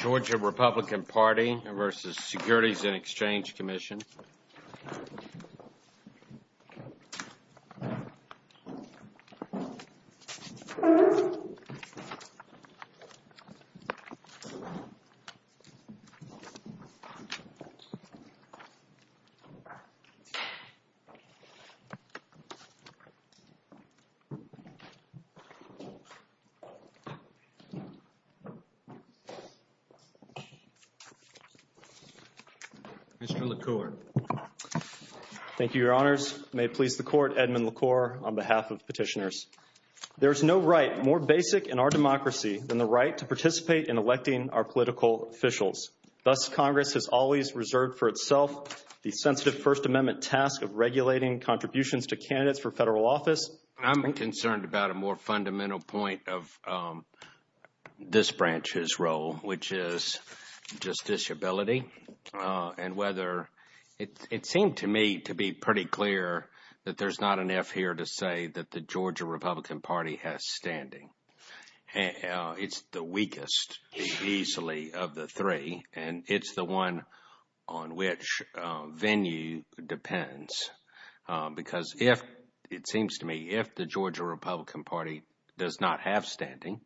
Georgia Republican Party v. Securities and Exchange Commission. Mr. LaCour. Thank you, Your Honors. May it please the Court, Edmund LaCour on behalf of petitioners. There is no right more basic in our democracy than the right to participate in electing our political officials. Thus, Congress has always reserved for itself the sensitive First Amendment task of regulating contributions to candidates for federal office. I'm concerned about a more fundamental point of this branch's role, which is justiciability and whether – it seemed to me to be pretty clear that there's not enough here to say that the Georgia Republican Party has standing. It's the weakest, easily, of the three, and it's the one on which venue depends. Because if – it seems to me if the Georgia Republican Party does not have standing,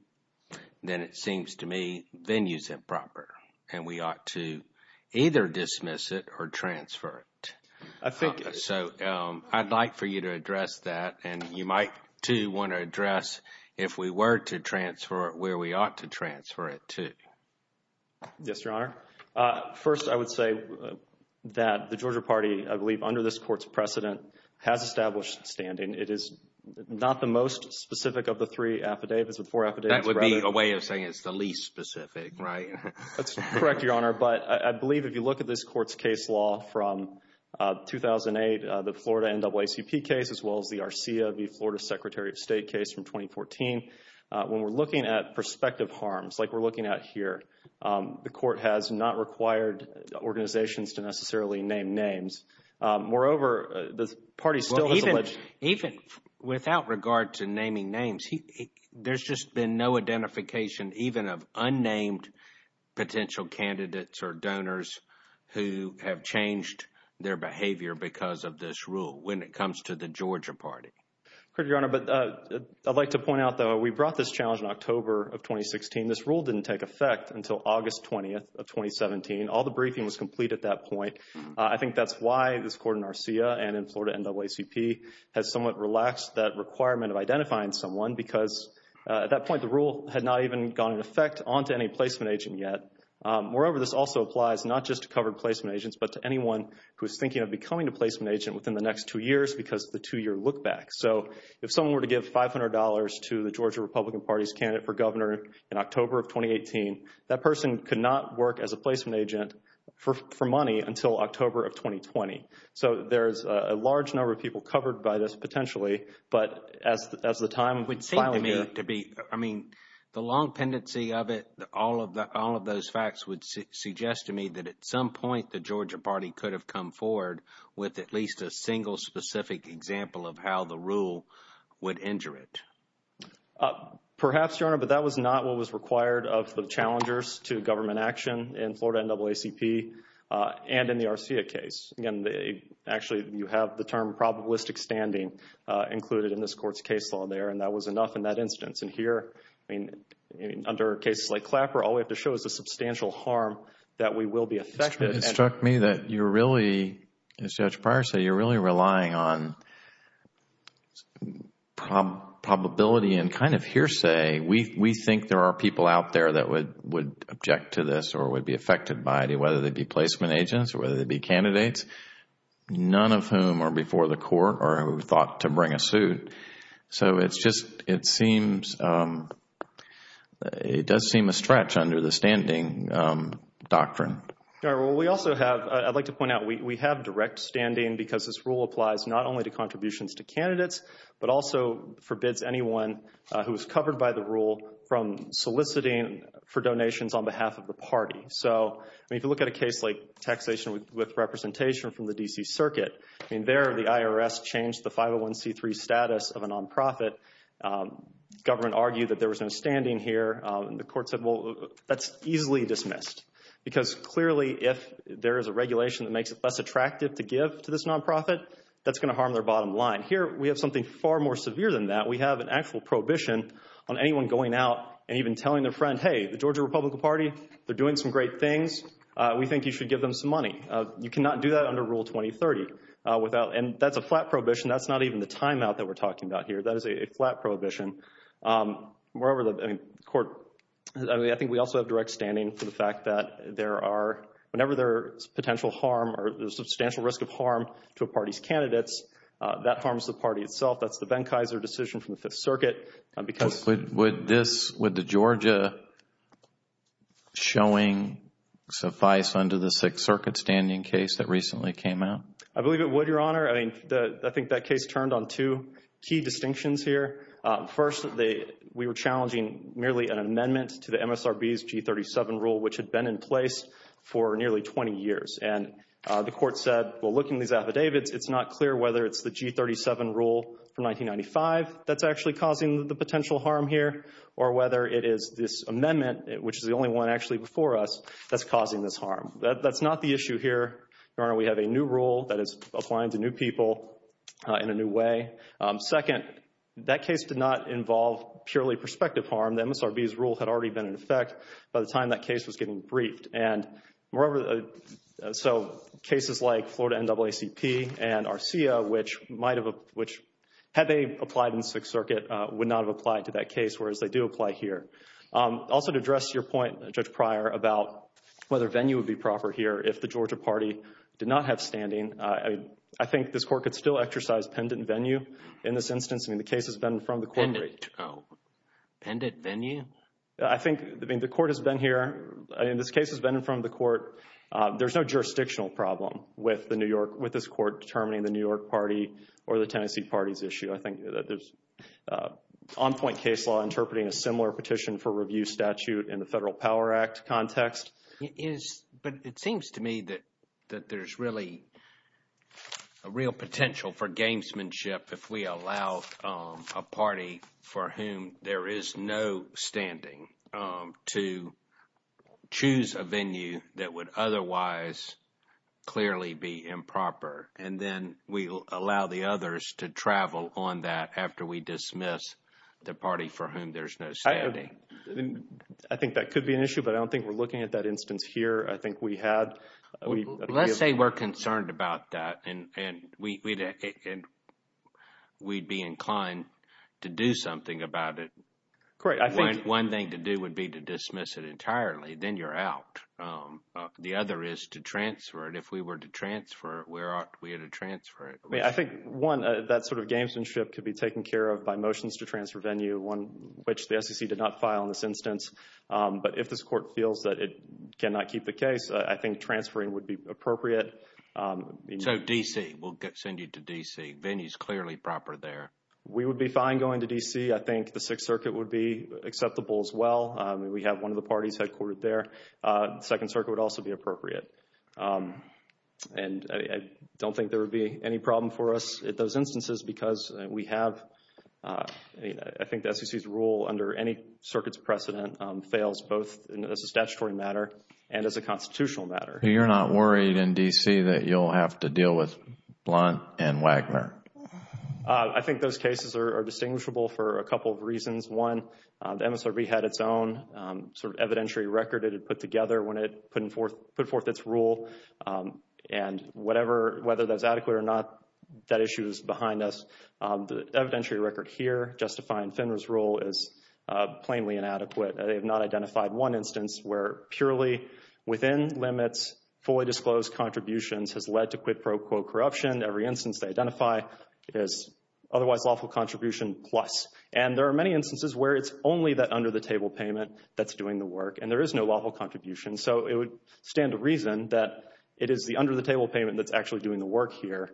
then it seems to me venue's improper, and we ought to either dismiss it or transfer it. So I'd like for you to address that, and you might, too, want to address if we were to transfer it where we ought to transfer it to. Yes, Your Honor. First, I would say that the Georgia Party, I believe, under this Court's precedent, has established standing. It is not the most specific of the three affidavits, but four affidavits rather. That would be a way of saying it's the least specific, right? That's correct, Your Honor. But I believe if you look at this Court's case law from 2008, the Florida NAACP case, as well as the RCA v. Florida Secretary of State case from 2014, when we're looking at prospective harms, like we're looking at here, the Court has not required organizations to necessarily name names. Moreover, the party still has alleged – Even without regard to naming names, there's just been no identification even of unnamed potential candidates or donors who have changed their behavior because of this rule when it comes to the Georgia Party. Correct, Your Honor. But I'd like to point out, though, we brought this challenge in October of 2016. This rule didn't take effect until August 20th of 2017. All the briefing was complete at that point. I think that's why this Court in RCA and in Florida NAACP has somewhat relaxed that requirement of identifying someone because at that point the rule had not even gone into effect onto any placement agent yet. Moreover, this also applies not just to covered placement agents, but to anyone who is thinking of becoming a placement agent within the next two years because of the two-year look-back. So if someone were to give $500 to the Georgia Republican Party's candidate for governor in October of 2018, that person could not work as a placement agent for money until October of 2020. So there's a large number of people covered by this potentially, but as the time – It would seem to me to be, I mean, the long pendency of it, all of those facts would suggest to me that at some point the Georgia Party could have come forward with at least a single specific example of how the rule would injure it. Perhaps, Your Honor, but that was not what was required of the challengers to government action in Florida NAACP and in the RCA case. Actually, you have the term probabilistic standing included in this court's case law there and that was enough in that instance. And here, I mean, under cases like Clapper, all we have to show is the substantial harm that we will be affected. It struck me that you're really, as Judge Pryor said, you're really relying on probability and kind of hearsay. We think there are people out there that would object to this or would be affected by it, whether they be placement agents or whether they be candidates, none of whom are before the court or who thought to bring a suit. So it's just – it seems – it does seem a stretch under the standing doctrine. Well, we also have – I'd like to point out we have direct standing because this rule applies not only to contributions to candidates, but also forbids anyone who is covered by the rule from soliciting for donations on behalf of the party. So, I mean, if you look at a case like taxation with representation from the D.C. Circuit, I mean, there the IRS changed the 501c3 status of a nonprofit. Government argued that there was no standing here. The court said, well, that's easily dismissed because clearly if there is a regulation that makes it less attractive to give to this nonprofit, that's going to harm their bottom line. Here, we have something far more severe than that. We have an actual prohibition on anyone going out and even telling their friend, hey, the Georgia Republican Party, they're doing some great things. We think you should give them some money. You cannot do that under Rule 2030 without – and that's a flat prohibition. That's not even the timeout that we're talking about here. That is a flat prohibition. Wherever the court – I mean, I think we also have direct standing for the fact that there are – whenever there is potential harm or substantial risk of harm to a party's candidates, that harms the party itself. That's the Benkiser decision from the Fifth Circuit because – Would this – would the Georgia showing suffice under the Sixth Circuit standing case that recently came out? I believe it would, Your Honor. I mean, I think that case turned on two key distinctions here. First, we were challenging merely an amendment to the MSRB's G37 rule, which had been in place for nearly 20 years. And the court said, well, looking at these affidavits, it's not clear whether it's the G37 rule from 1995 that's actually causing the potential harm here or whether it is this amendment, which is the only one actually before us, that's causing this harm. That's not the issue here, Your Honor. We have a new rule that is applying to new people in a new way. Second, that case did not involve purely prospective harm. The MSRB's rule had already been in effect by the time that case was getting briefed. And moreover, so cases like Florida NAACP and ARCIA, which might have – which had they applied in the Sixth Circuit, would not have applied to that case, whereas they do apply here. Also, to address your point, Judge Pryor, about whether venue would be proper here if the Georgia party did not have standing, I think this court could still exercise pendant venue in this instance. I mean, the case has been from the court. Pendant venue? I think – I mean, the court has been here. I mean, this case has been from the court. There's no jurisdictional problem with the New York – with this court determining the New York party or the Tennessee party's issue. I think that there's on-point case law interpreting a similar petition for review statute in the Federal Power Act context. But it seems to me that there's really a real potential for gamesmanship if we allow a party for whom there is no standing to choose a venue that would otherwise clearly be improper. And then we allow the others to travel on that after we dismiss the party for whom there's no standing. I think that could be an issue, but I don't think we're looking at that instance here. I think we had – Let's say we're concerned about that and we'd be inclined to do something about it. Correct. One thing to do would be to dismiss it entirely. Then you're out. The other is to transfer it. If we were to transfer it, where ought we to transfer it? I think, one, that sort of gamesmanship could be taken care of by motions to transfer venue, one which the SEC did not file in this instance. But if this court feels that it cannot keep the case, I think transferring would be appropriate. So, D.C. We'll send you to D.C. Venue's clearly proper there. We would be fine going to D.C. I think the Sixth Circuit would be acceptable as well. We have one of the parties headquartered there. Second Circuit would also be appropriate. I don't think there would be any problem for us in those instances because we have – I think the SEC's rule under any circuit's precedent fails both as a statutory matter and as a constitutional matter. You're not worried in D.C. that you'll have to deal with Blunt and Wagner? I think those cases are distinguishable for a couple of reasons. One, the MSRB had its own sort of evidentiary record it had put together when it put forth its rule. And whatever – whether that's adequate or not, that issue is behind us. The evidentiary record here justifying FINRA's rule is plainly inadequate. They have not identified one instance where purely within limits, fully disclosed contributions has led to quid pro quo corruption. Every instance they identify is otherwise lawful contribution plus. And there are many instances where it's only that under-the-table payment that's doing the work. And there is no lawful contribution. So it would stand to reason that it is the under-the-table payment that's actually doing the work here.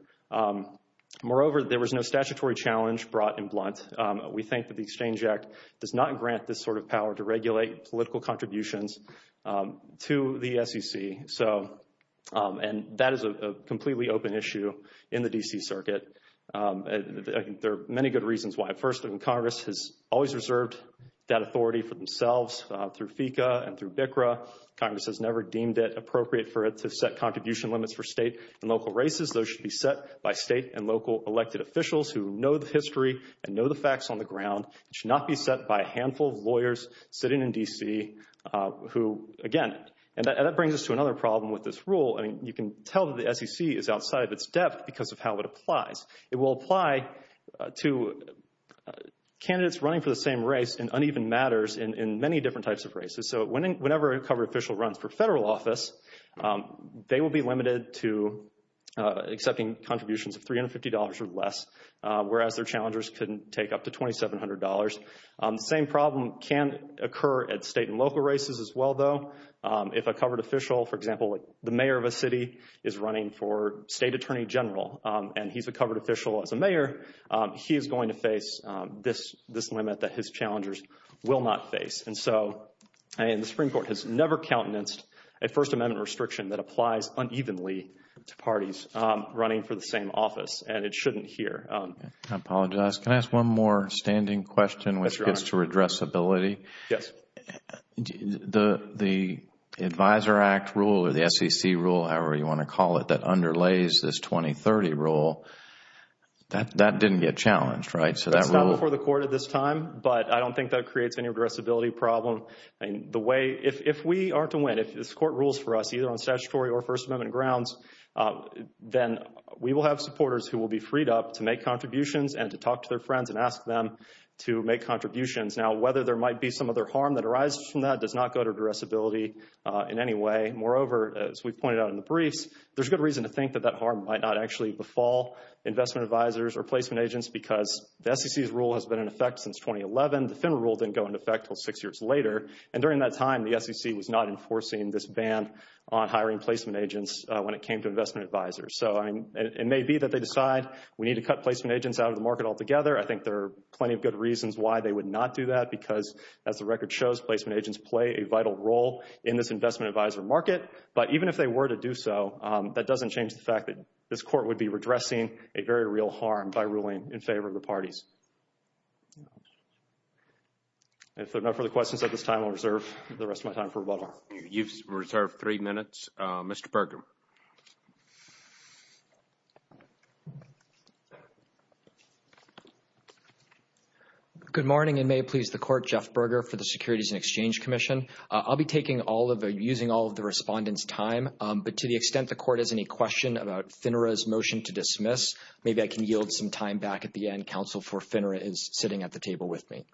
Moreover, there was no statutory challenge brought in Blunt. We think that the Exchange Act does not grant this sort of power to regulate political contributions to the SEC. So – and that is a completely open issue in the D.C. Circuit. There are many good reasons why. First, Congress has always reserved that authority for themselves through FECA and through BCCRA. Congress has never deemed it appropriate for it to set contribution limits for state and local races. Those should be set by state and local elected officials who know the history and know the facts on the ground. It should not be set by a handful of lawyers sitting in D.C. who, again – and that brings us to another problem with this rule. I mean, you can tell that the SEC is outside of its depth because of how it applies. It will apply to candidates running for the same race in uneven matters in many different types of races. So whenever a covered official runs for federal office, they will be limited to accepting contributions of $350 or less, whereas their challengers can take up to $2,700. The same problem can occur at state and local races as well, though. If a covered official, for example, the mayor of a city, is running for state attorney general and he's a covered official as a mayor, he is going to face this limit that his challengers will not face. And so the Supreme Court has never countenanced a First Amendment restriction that applies unevenly to parties running for the same office, and it shouldn't here. I apologize. Can I ask one more standing question which gets to redressability? Yes. The Advisor Act rule or the SEC rule, however you want to call it, that underlays this 2030 rule, that didn't get challenged, right? It's not before the court at this time, but I don't think that creates any redressability problem. If we are to win, if this court rules for us either on statutory or First Amendment grounds, then we will have supporters who will be freed up to make contributions and to talk to their friends and ask them to make contributions. Now, whether there might be some other harm that arises from that does not go to redressability in any way. Moreover, as we've pointed out in the briefs, there's good reason to think that that harm might not actually befall investment advisors or placement agents because the SEC's rule has been in effect since 2011. The FINRA rule didn't go into effect until six years later. And during that time, the SEC was not enforcing this ban on hiring placement agents when it came to investment advisors. So it may be that they decide we need to cut placement agents out of the market altogether. I think there are plenty of good reasons why they would not do that because, as the record shows, placement agents play a vital role in this investment advisor market. But even if they were to do so, that doesn't change the fact that this court would be redressing a very real harm by ruling in favor of the parties. If there are no further questions at this time, I'll reserve the rest of my time for rebuttal. You've reserved three minutes. Mr. Berger. Good morning, and may it please the Court, Jeff Berger for the Securities and Exchange Commission. I'll be using all of the respondents' time, but to the extent the Court has any question about FINRA's motion to dismiss, maybe I can yield some time back at the end. Counsel for FINRA is sitting at the table with me.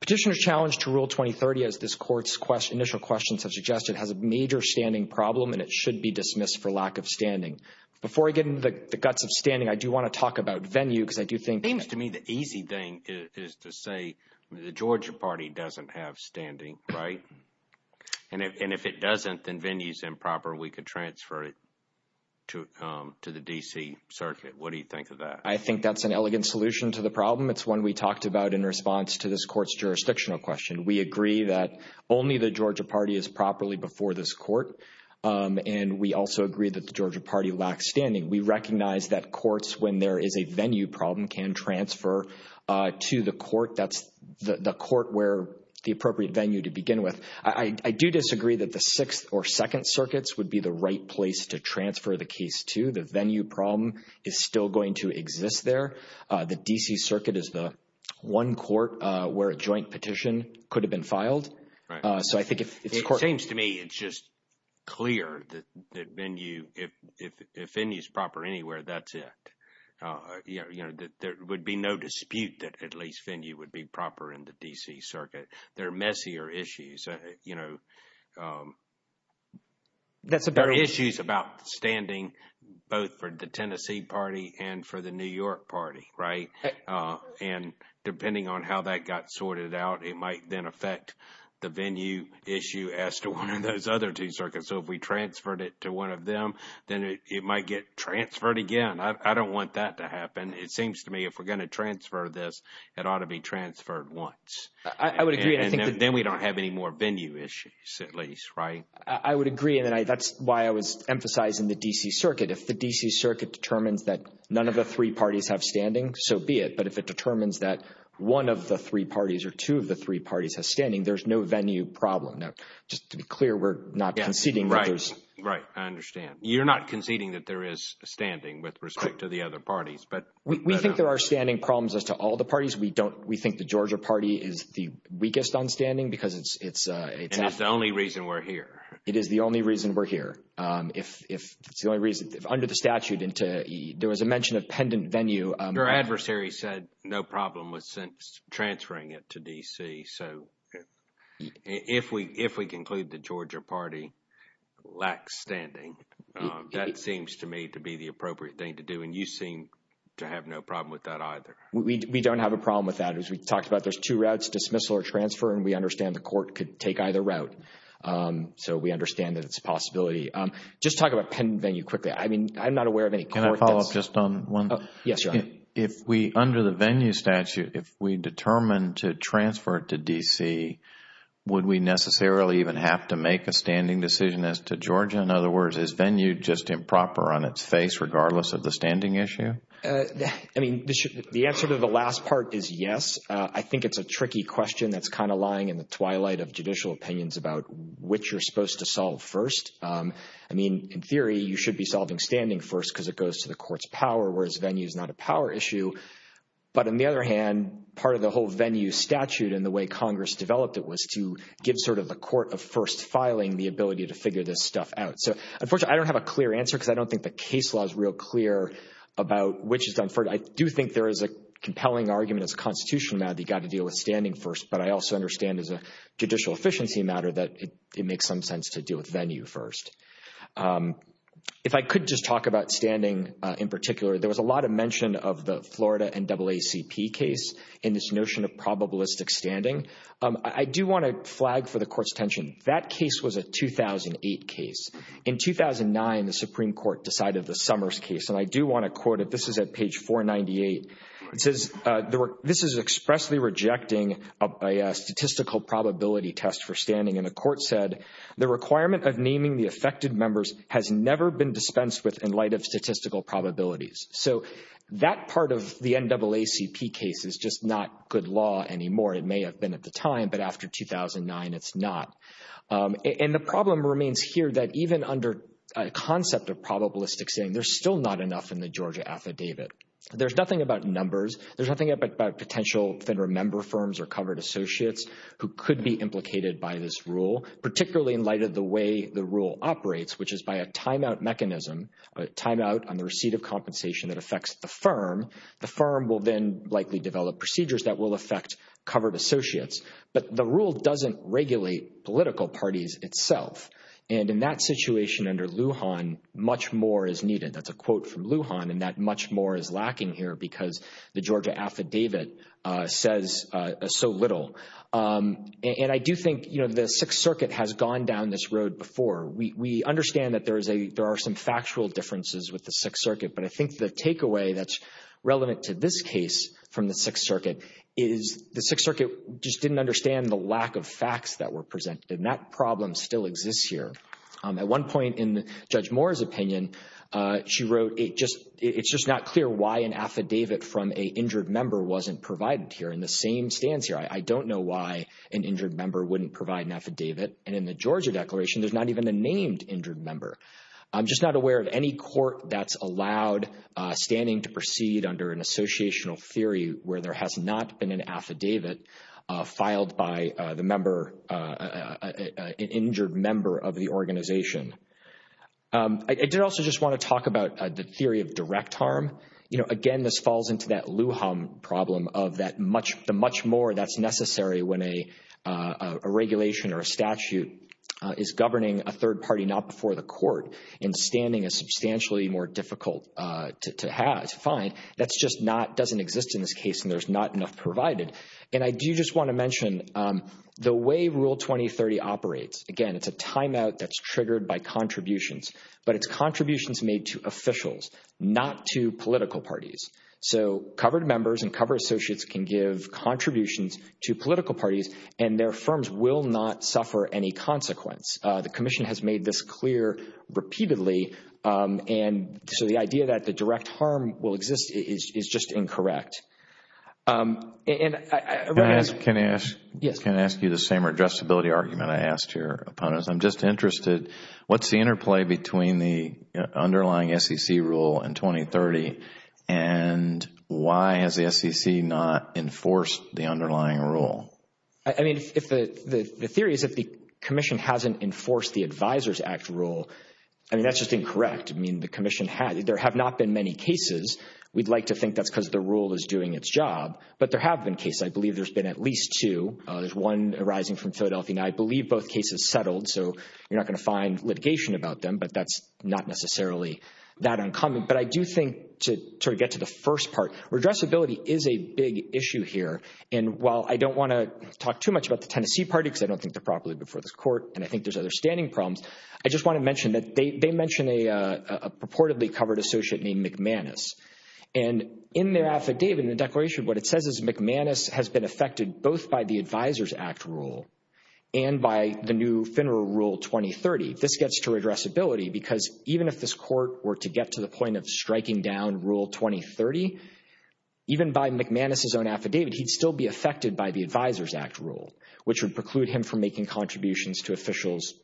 Petitioner's challenge to Rule 2030, as this Court's initial questions have suggested, has a major standing problem, and it should be dismissed for lack of standing. Before I get into the guts of standing, I do want to talk about venue because I do think… It seems to me the easy thing is to say the Georgia party doesn't have standing, right? And if it doesn't, then venue is improper. We could transfer it to the D.C. Circuit. What do you think of that? I think that's an elegant solution to the problem. It's one we talked about in response to this Court's jurisdictional question. We agree that only the Georgia party is properly before this Court, and we also agree that the Georgia party lacks standing. We recognize that courts, when there is a venue problem, can transfer to the court. That's the court where the appropriate venue to begin with. I do disagree that the Sixth or Second Circuits would be the right place to transfer the case to. The venue problem is still going to exist there. The D.C. Circuit is the one court where a joint petition could have been filed. It seems to me it's just clear that venue, if venue is proper anywhere, that's it. There would be no dispute that at least venue would be proper in the D.C. Circuit. There are messier issues. There are issues about standing both for the Tennessee party and for the New York party, right? And depending on how that got sorted out, it might then affect the venue issue as to one of those other two circuits. So if we transferred it to one of them, then it might get transferred again. I don't want that to happen. It seems to me if we're going to transfer this, it ought to be transferred once. I would agree. And then we don't have any more venue issues at least, right? I would agree. And that's why I was emphasizing the D.C. Circuit. If the D.C. Circuit determines that none of the three parties have standing, so be it. But if it determines that one of the three parties or two of the three parties have standing, there's no venue problem. Now, just to be clear, we're not conceding that there's. Right. I understand. You're not conceding that there is standing with respect to the other parties. We think there are standing problems as to all the parties. We think the Georgia party is the weakest on standing because it's. And it's the only reason we're here. It is the only reason we're here. If it's the only reason. Under the statute, there was a mention of pendant venue. Your adversary said no problem with transferring it to D.C. So if we conclude the Georgia party lacks standing, that seems to me to be the appropriate thing to do. And you seem to have no problem with that either. We don't have a problem with that. As we talked about, there's two routes, dismissal or transfer. And we understand the court could take either route. So we understand that it's a possibility. Just talk about pendant venue quickly. I mean, I'm not aware of any court that's. Can I follow up just on one? Yes, Your Honor. If we, under the venue statute, if we determine to transfer it to D.C., would we necessarily even have to make a standing decision as to Georgia? In other words, is venue just improper on its face regardless of the standing issue? I mean, the answer to the last part is yes. I think it's a tricky question that's kind of lying in the twilight of judicial opinions about which you're supposed to solve first. I mean, in theory, you should be solving standing first because it goes to the court's power, whereas venue is not a power issue. But on the other hand, part of the whole venue statute and the way Congress developed it was to give sort of the court of first filing the ability to figure this stuff out. So, unfortunately, I don't have a clear answer because I don't think the case law is real clear about which is done first. I do think there is a compelling argument as a Constitution matter that you've got to deal with standing first, but I also understand as a judicial efficiency matter that it makes some sense to deal with venue first. If I could just talk about standing in particular, there was a lot of mention of the Florida NAACP case in this notion of probabilistic standing. I do want to flag for the Court's attention. That case was a 2008 case. In 2009, the Supreme Court decided the Summers case, and I do want to quote it. This is at page 498. It says, this is expressly rejecting a statistical probability test for standing, and the Court said, the requirement of naming the affected members has never been dispensed with in light of statistical probabilities. So that part of the NAACP case is just not good law anymore. It may have been at the time, but after 2009, it's not. And the problem remains here that even under a concept of probabilistic standing, there's still not enough in the Georgia affidavit. There's nothing about numbers. There's nothing about potential vendor member firms or covered associates who could be implicated by this rule, particularly in light of the way the rule operates, which is by a timeout mechanism, a timeout on the receipt of compensation that affects the firm. The firm will then likely develop procedures that will affect covered associates. But the rule doesn't regulate political parties itself, and in that situation under Lujan, much more is needed. That's a quote from Lujan, and that much more is lacking here because the Georgia affidavit says so little. And I do think, you know, the Sixth Circuit has gone down this road before. We understand that there are some factual differences with the Sixth Circuit, but I think the takeaway that's relevant to this case from the Sixth Circuit is the Sixth Circuit just didn't understand the lack of facts that were presented, and that problem still exists here. At one point in Judge Moore's opinion, she wrote, it's just not clear why an affidavit from a injured member wasn't provided here. In the same stance here, I don't know why an injured member wouldn't provide an affidavit, and in the Georgia Declaration, there's not even a named injured member. I'm just not aware of any court that's allowed standing to proceed under an associational theory where there has not been an affidavit filed by the member, an injured member of the organization. I did also just want to talk about the theory of direct harm. You know, again, this falls into that Lujan problem of the much more that's necessary when a regulation or a statute is governing a third party not before the court and standing is substantially more difficult to find. That just doesn't exist in this case, and there's not enough provided. And I do just want to mention the way Rule 2030 operates, again, it's a timeout that's triggered by contributions, but it's contributions made to officials, not to political parties. So covered members and covered associates can give contributions to political parties and their firms will not suffer any consequence. The Commission has made this clear repeatedly, and so the idea that the direct harm will exist is just incorrect. Can I ask you the same adjustability argument I asked your opponents? I'm just interested, what's the interplay between the underlying SEC rule in 2030 and why has the SEC not enforced the underlying rule? I mean, the theory is that the Commission hasn't enforced the Advisors Act rule. I mean, that's just incorrect. I mean, there have not been many cases. We'd like to think that's because the rule is doing its job, but there have been cases. I believe there's been at least two. There's one arising from Philadelphia, and I believe both cases settled, so you're not going to find litigation about them, but that's not necessarily that uncommon. But I do think to sort of get to the first part, redressability is a big issue here. And while I don't want to talk too much about the Tennessee party because I don't think they're properly before this court and I think there's other standing problems, I just want to mention that they mention a purportedly covered associate named McManus. And in their affidavit, in the declaration, what it says is McManus has been affected both by the Advisors Act rule and by the new FINRA Rule 2030. This gets to redressability because even if this court were to get to the point of striking down Rule 2030, even by McManus' own affidavit, he'd still be affected by the Advisors Act rule, which would preclude him from making contributions to officials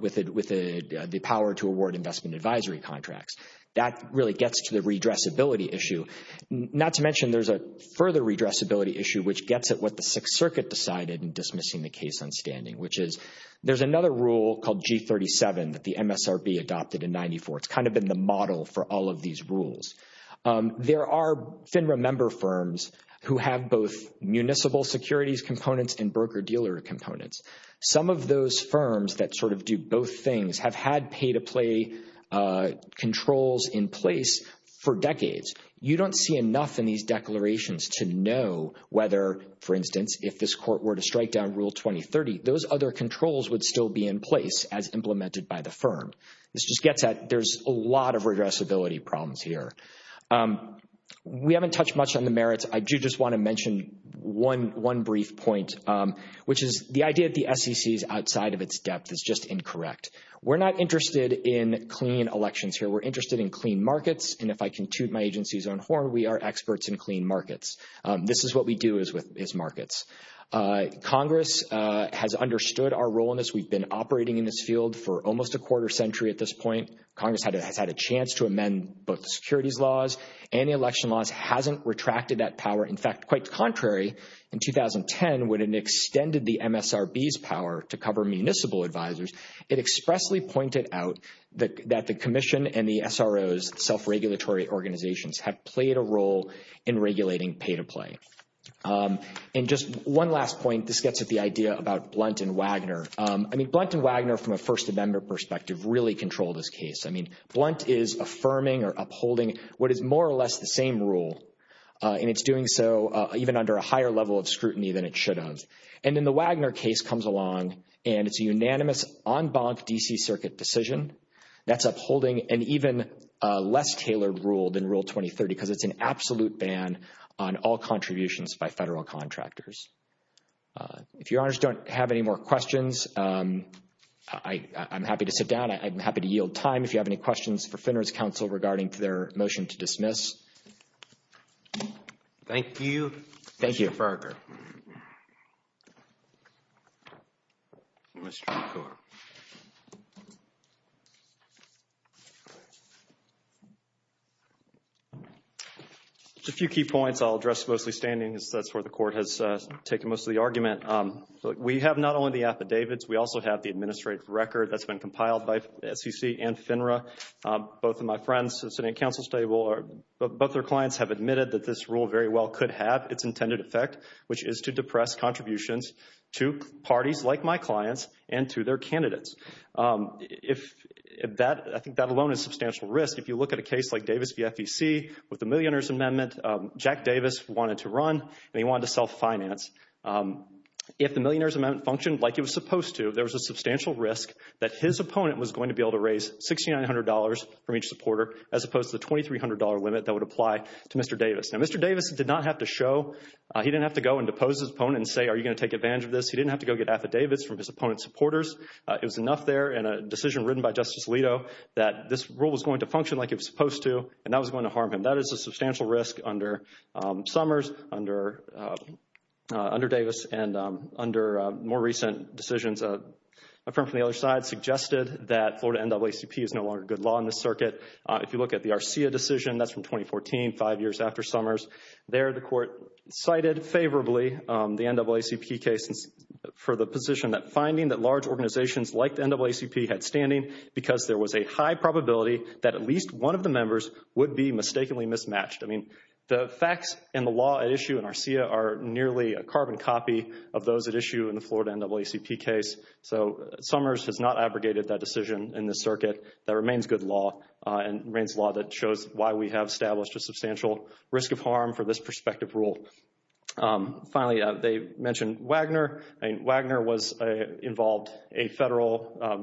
with the power to award investment advisory contracts. That really gets to the redressability issue, not to mention there's a further redressability issue which gets at what the Sixth Circuit decided in dismissing the case on standing, which is there's another rule called G37 that the MSRB adopted in 94. It's kind of been the model for all of these rules. There are FINRA member firms who have both municipal securities components and broker-dealer components. Some of those firms that sort of do both things have had pay-to-play controls in place for decades. You don't see enough in these declarations to know whether, for instance, if this court were to strike down Rule 2030, those other controls would still be in place as implemented by the firm. This just gets at there's a lot of redressability problems here. We haven't touched much on the merits. I do just want to mention one brief point, which is the idea that the SEC is outside of its depth is just incorrect. We're not interested in clean elections here. We're interested in clean markets, and if I can toot my agency's own horn, we are experts in clean markets. This is what we do is with markets. Congress has understood our role in this. We've been operating in this field for almost a quarter century at this point. Congress has had a chance to amend both the securities laws and the election laws, hasn't retracted that power. In fact, quite contrary, in 2010, when it extended the MSRB's power to cover municipal advisors, it expressly pointed out that the commission and the SRO's self-regulatory organizations have played a role in regulating pay-to-play. And just one last point, this gets at the idea about Blunt and Wagner. I mean, Blunt and Wagner, from a First Amendment perspective, really control this case. I mean, Blunt is affirming or upholding what is more or less the same rule, and it's doing so even under a higher level of scrutiny than it should have. And then the Wagner case comes along, and it's a unanimous en banc D.C. Circuit decision that's upholding an even less tailored rule than Rule 2030 because it's an absolute ban on all contributions by federal contractors. If your honors don't have any more questions, I'm happy to sit down. I'm happy to yield time if you have any questions for Fenner's counsel regarding their motion to dismiss. Thank you. Thank you. Mr. Farger. Just a few key points I'll address mostly standing. That's where the Court has taken most of the argument. We have not only the affidavits, we also have the administrative record that's been compiled by SEC and FINRA. Both of my friends sitting at counsel's table, both their clients have admitted that this rule very well could have its intended effect, which is to depress contributions to parties like my clients and to their candidates. I think that alone is substantial risk. If you look at a case like Davis v. FEC with the Millionaire's Amendment, Jack Davis wanted to run, and he wanted to self-finance. If the Millionaire's Amendment functioned like it was supposed to, there was a substantial risk that his opponent was going to be able to raise $6,900 from each supporter, as opposed to the $2,300 limit that would apply to Mr. Davis. Now, Mr. Davis did not have to show. He didn't have to go and depose his opponent and say, are you going to take advantage of this? He didn't have to go get affidavits from his opponent's supporters. It was enough there in a decision written by Justice Alito that this rule was going to function like it was supposed to, and that was going to harm him. That is a substantial risk under Summers, under Davis, and under more recent decisions. A firm from the other side suggested that Florida NAACP is no longer good law in this circuit. If you look at the RCA decision, that's from 2014, five years after Summers. There, the court cited favorably the NAACP case for the position that finding that large organizations like the NAACP had standing because there was a high probability that at least one of the members would be mistakenly mismatched. I mean, the facts and the law at issue in RCA are nearly a carbon copy of those at issue in the Florida NAACP case. So, Summers has not abrogated that decision in this circuit that remains good law and remains law that shows why we have established a substantial risk of harm for this prospective rule. Finally, they mentioned Wagner. Wagner involved a federal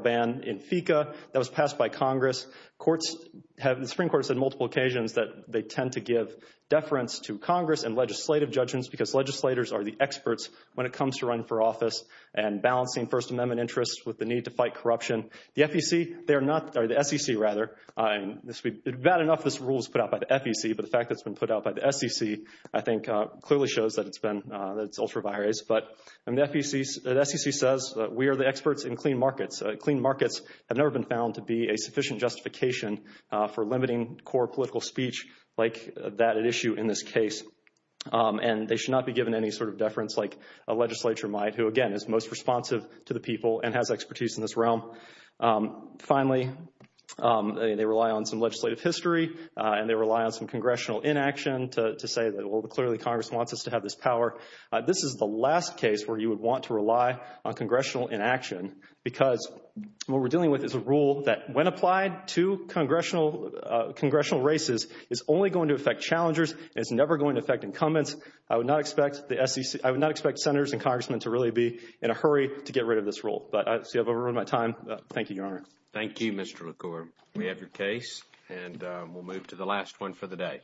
ban in FECA that was passed by Congress. The Supreme Court has said on multiple occasions that they tend to give deference to Congress and legislative judgments because legislators are the experts when it comes to running for office and balancing First Amendment interests with the need to fight corruption. The SEC, rather, and bad enough this rule was put out by the FEC, but the fact that it's been put out by the SEC, I think clearly shows that it's been, that it's ultra-biased. But the SEC says that we are the experts in clean markets. Clean markets have never been found to be a sufficient justification for limiting core political speech like that at issue in this case. And they should not be given any sort of deference like a legislature might, who, again, is most responsive to the people and has expertise in this realm. Finally, they rely on some legislative history and they rely on some congressional inaction to say that, well, clearly Congress wants us to have this power. This is the last case where you would want to rely on congressional inaction because what we're dealing with is a rule that, when applied to congressional races, is only going to affect challengers and is never going to affect incumbents. I would not expect the SEC, I would not expect senators and congressmen to really be in a hurry to get rid of this rule. But I see I've overrun my time. Thank you, Your Honor. Thank you, Mr. LaCour. We have your case and we'll move to the last one for the day.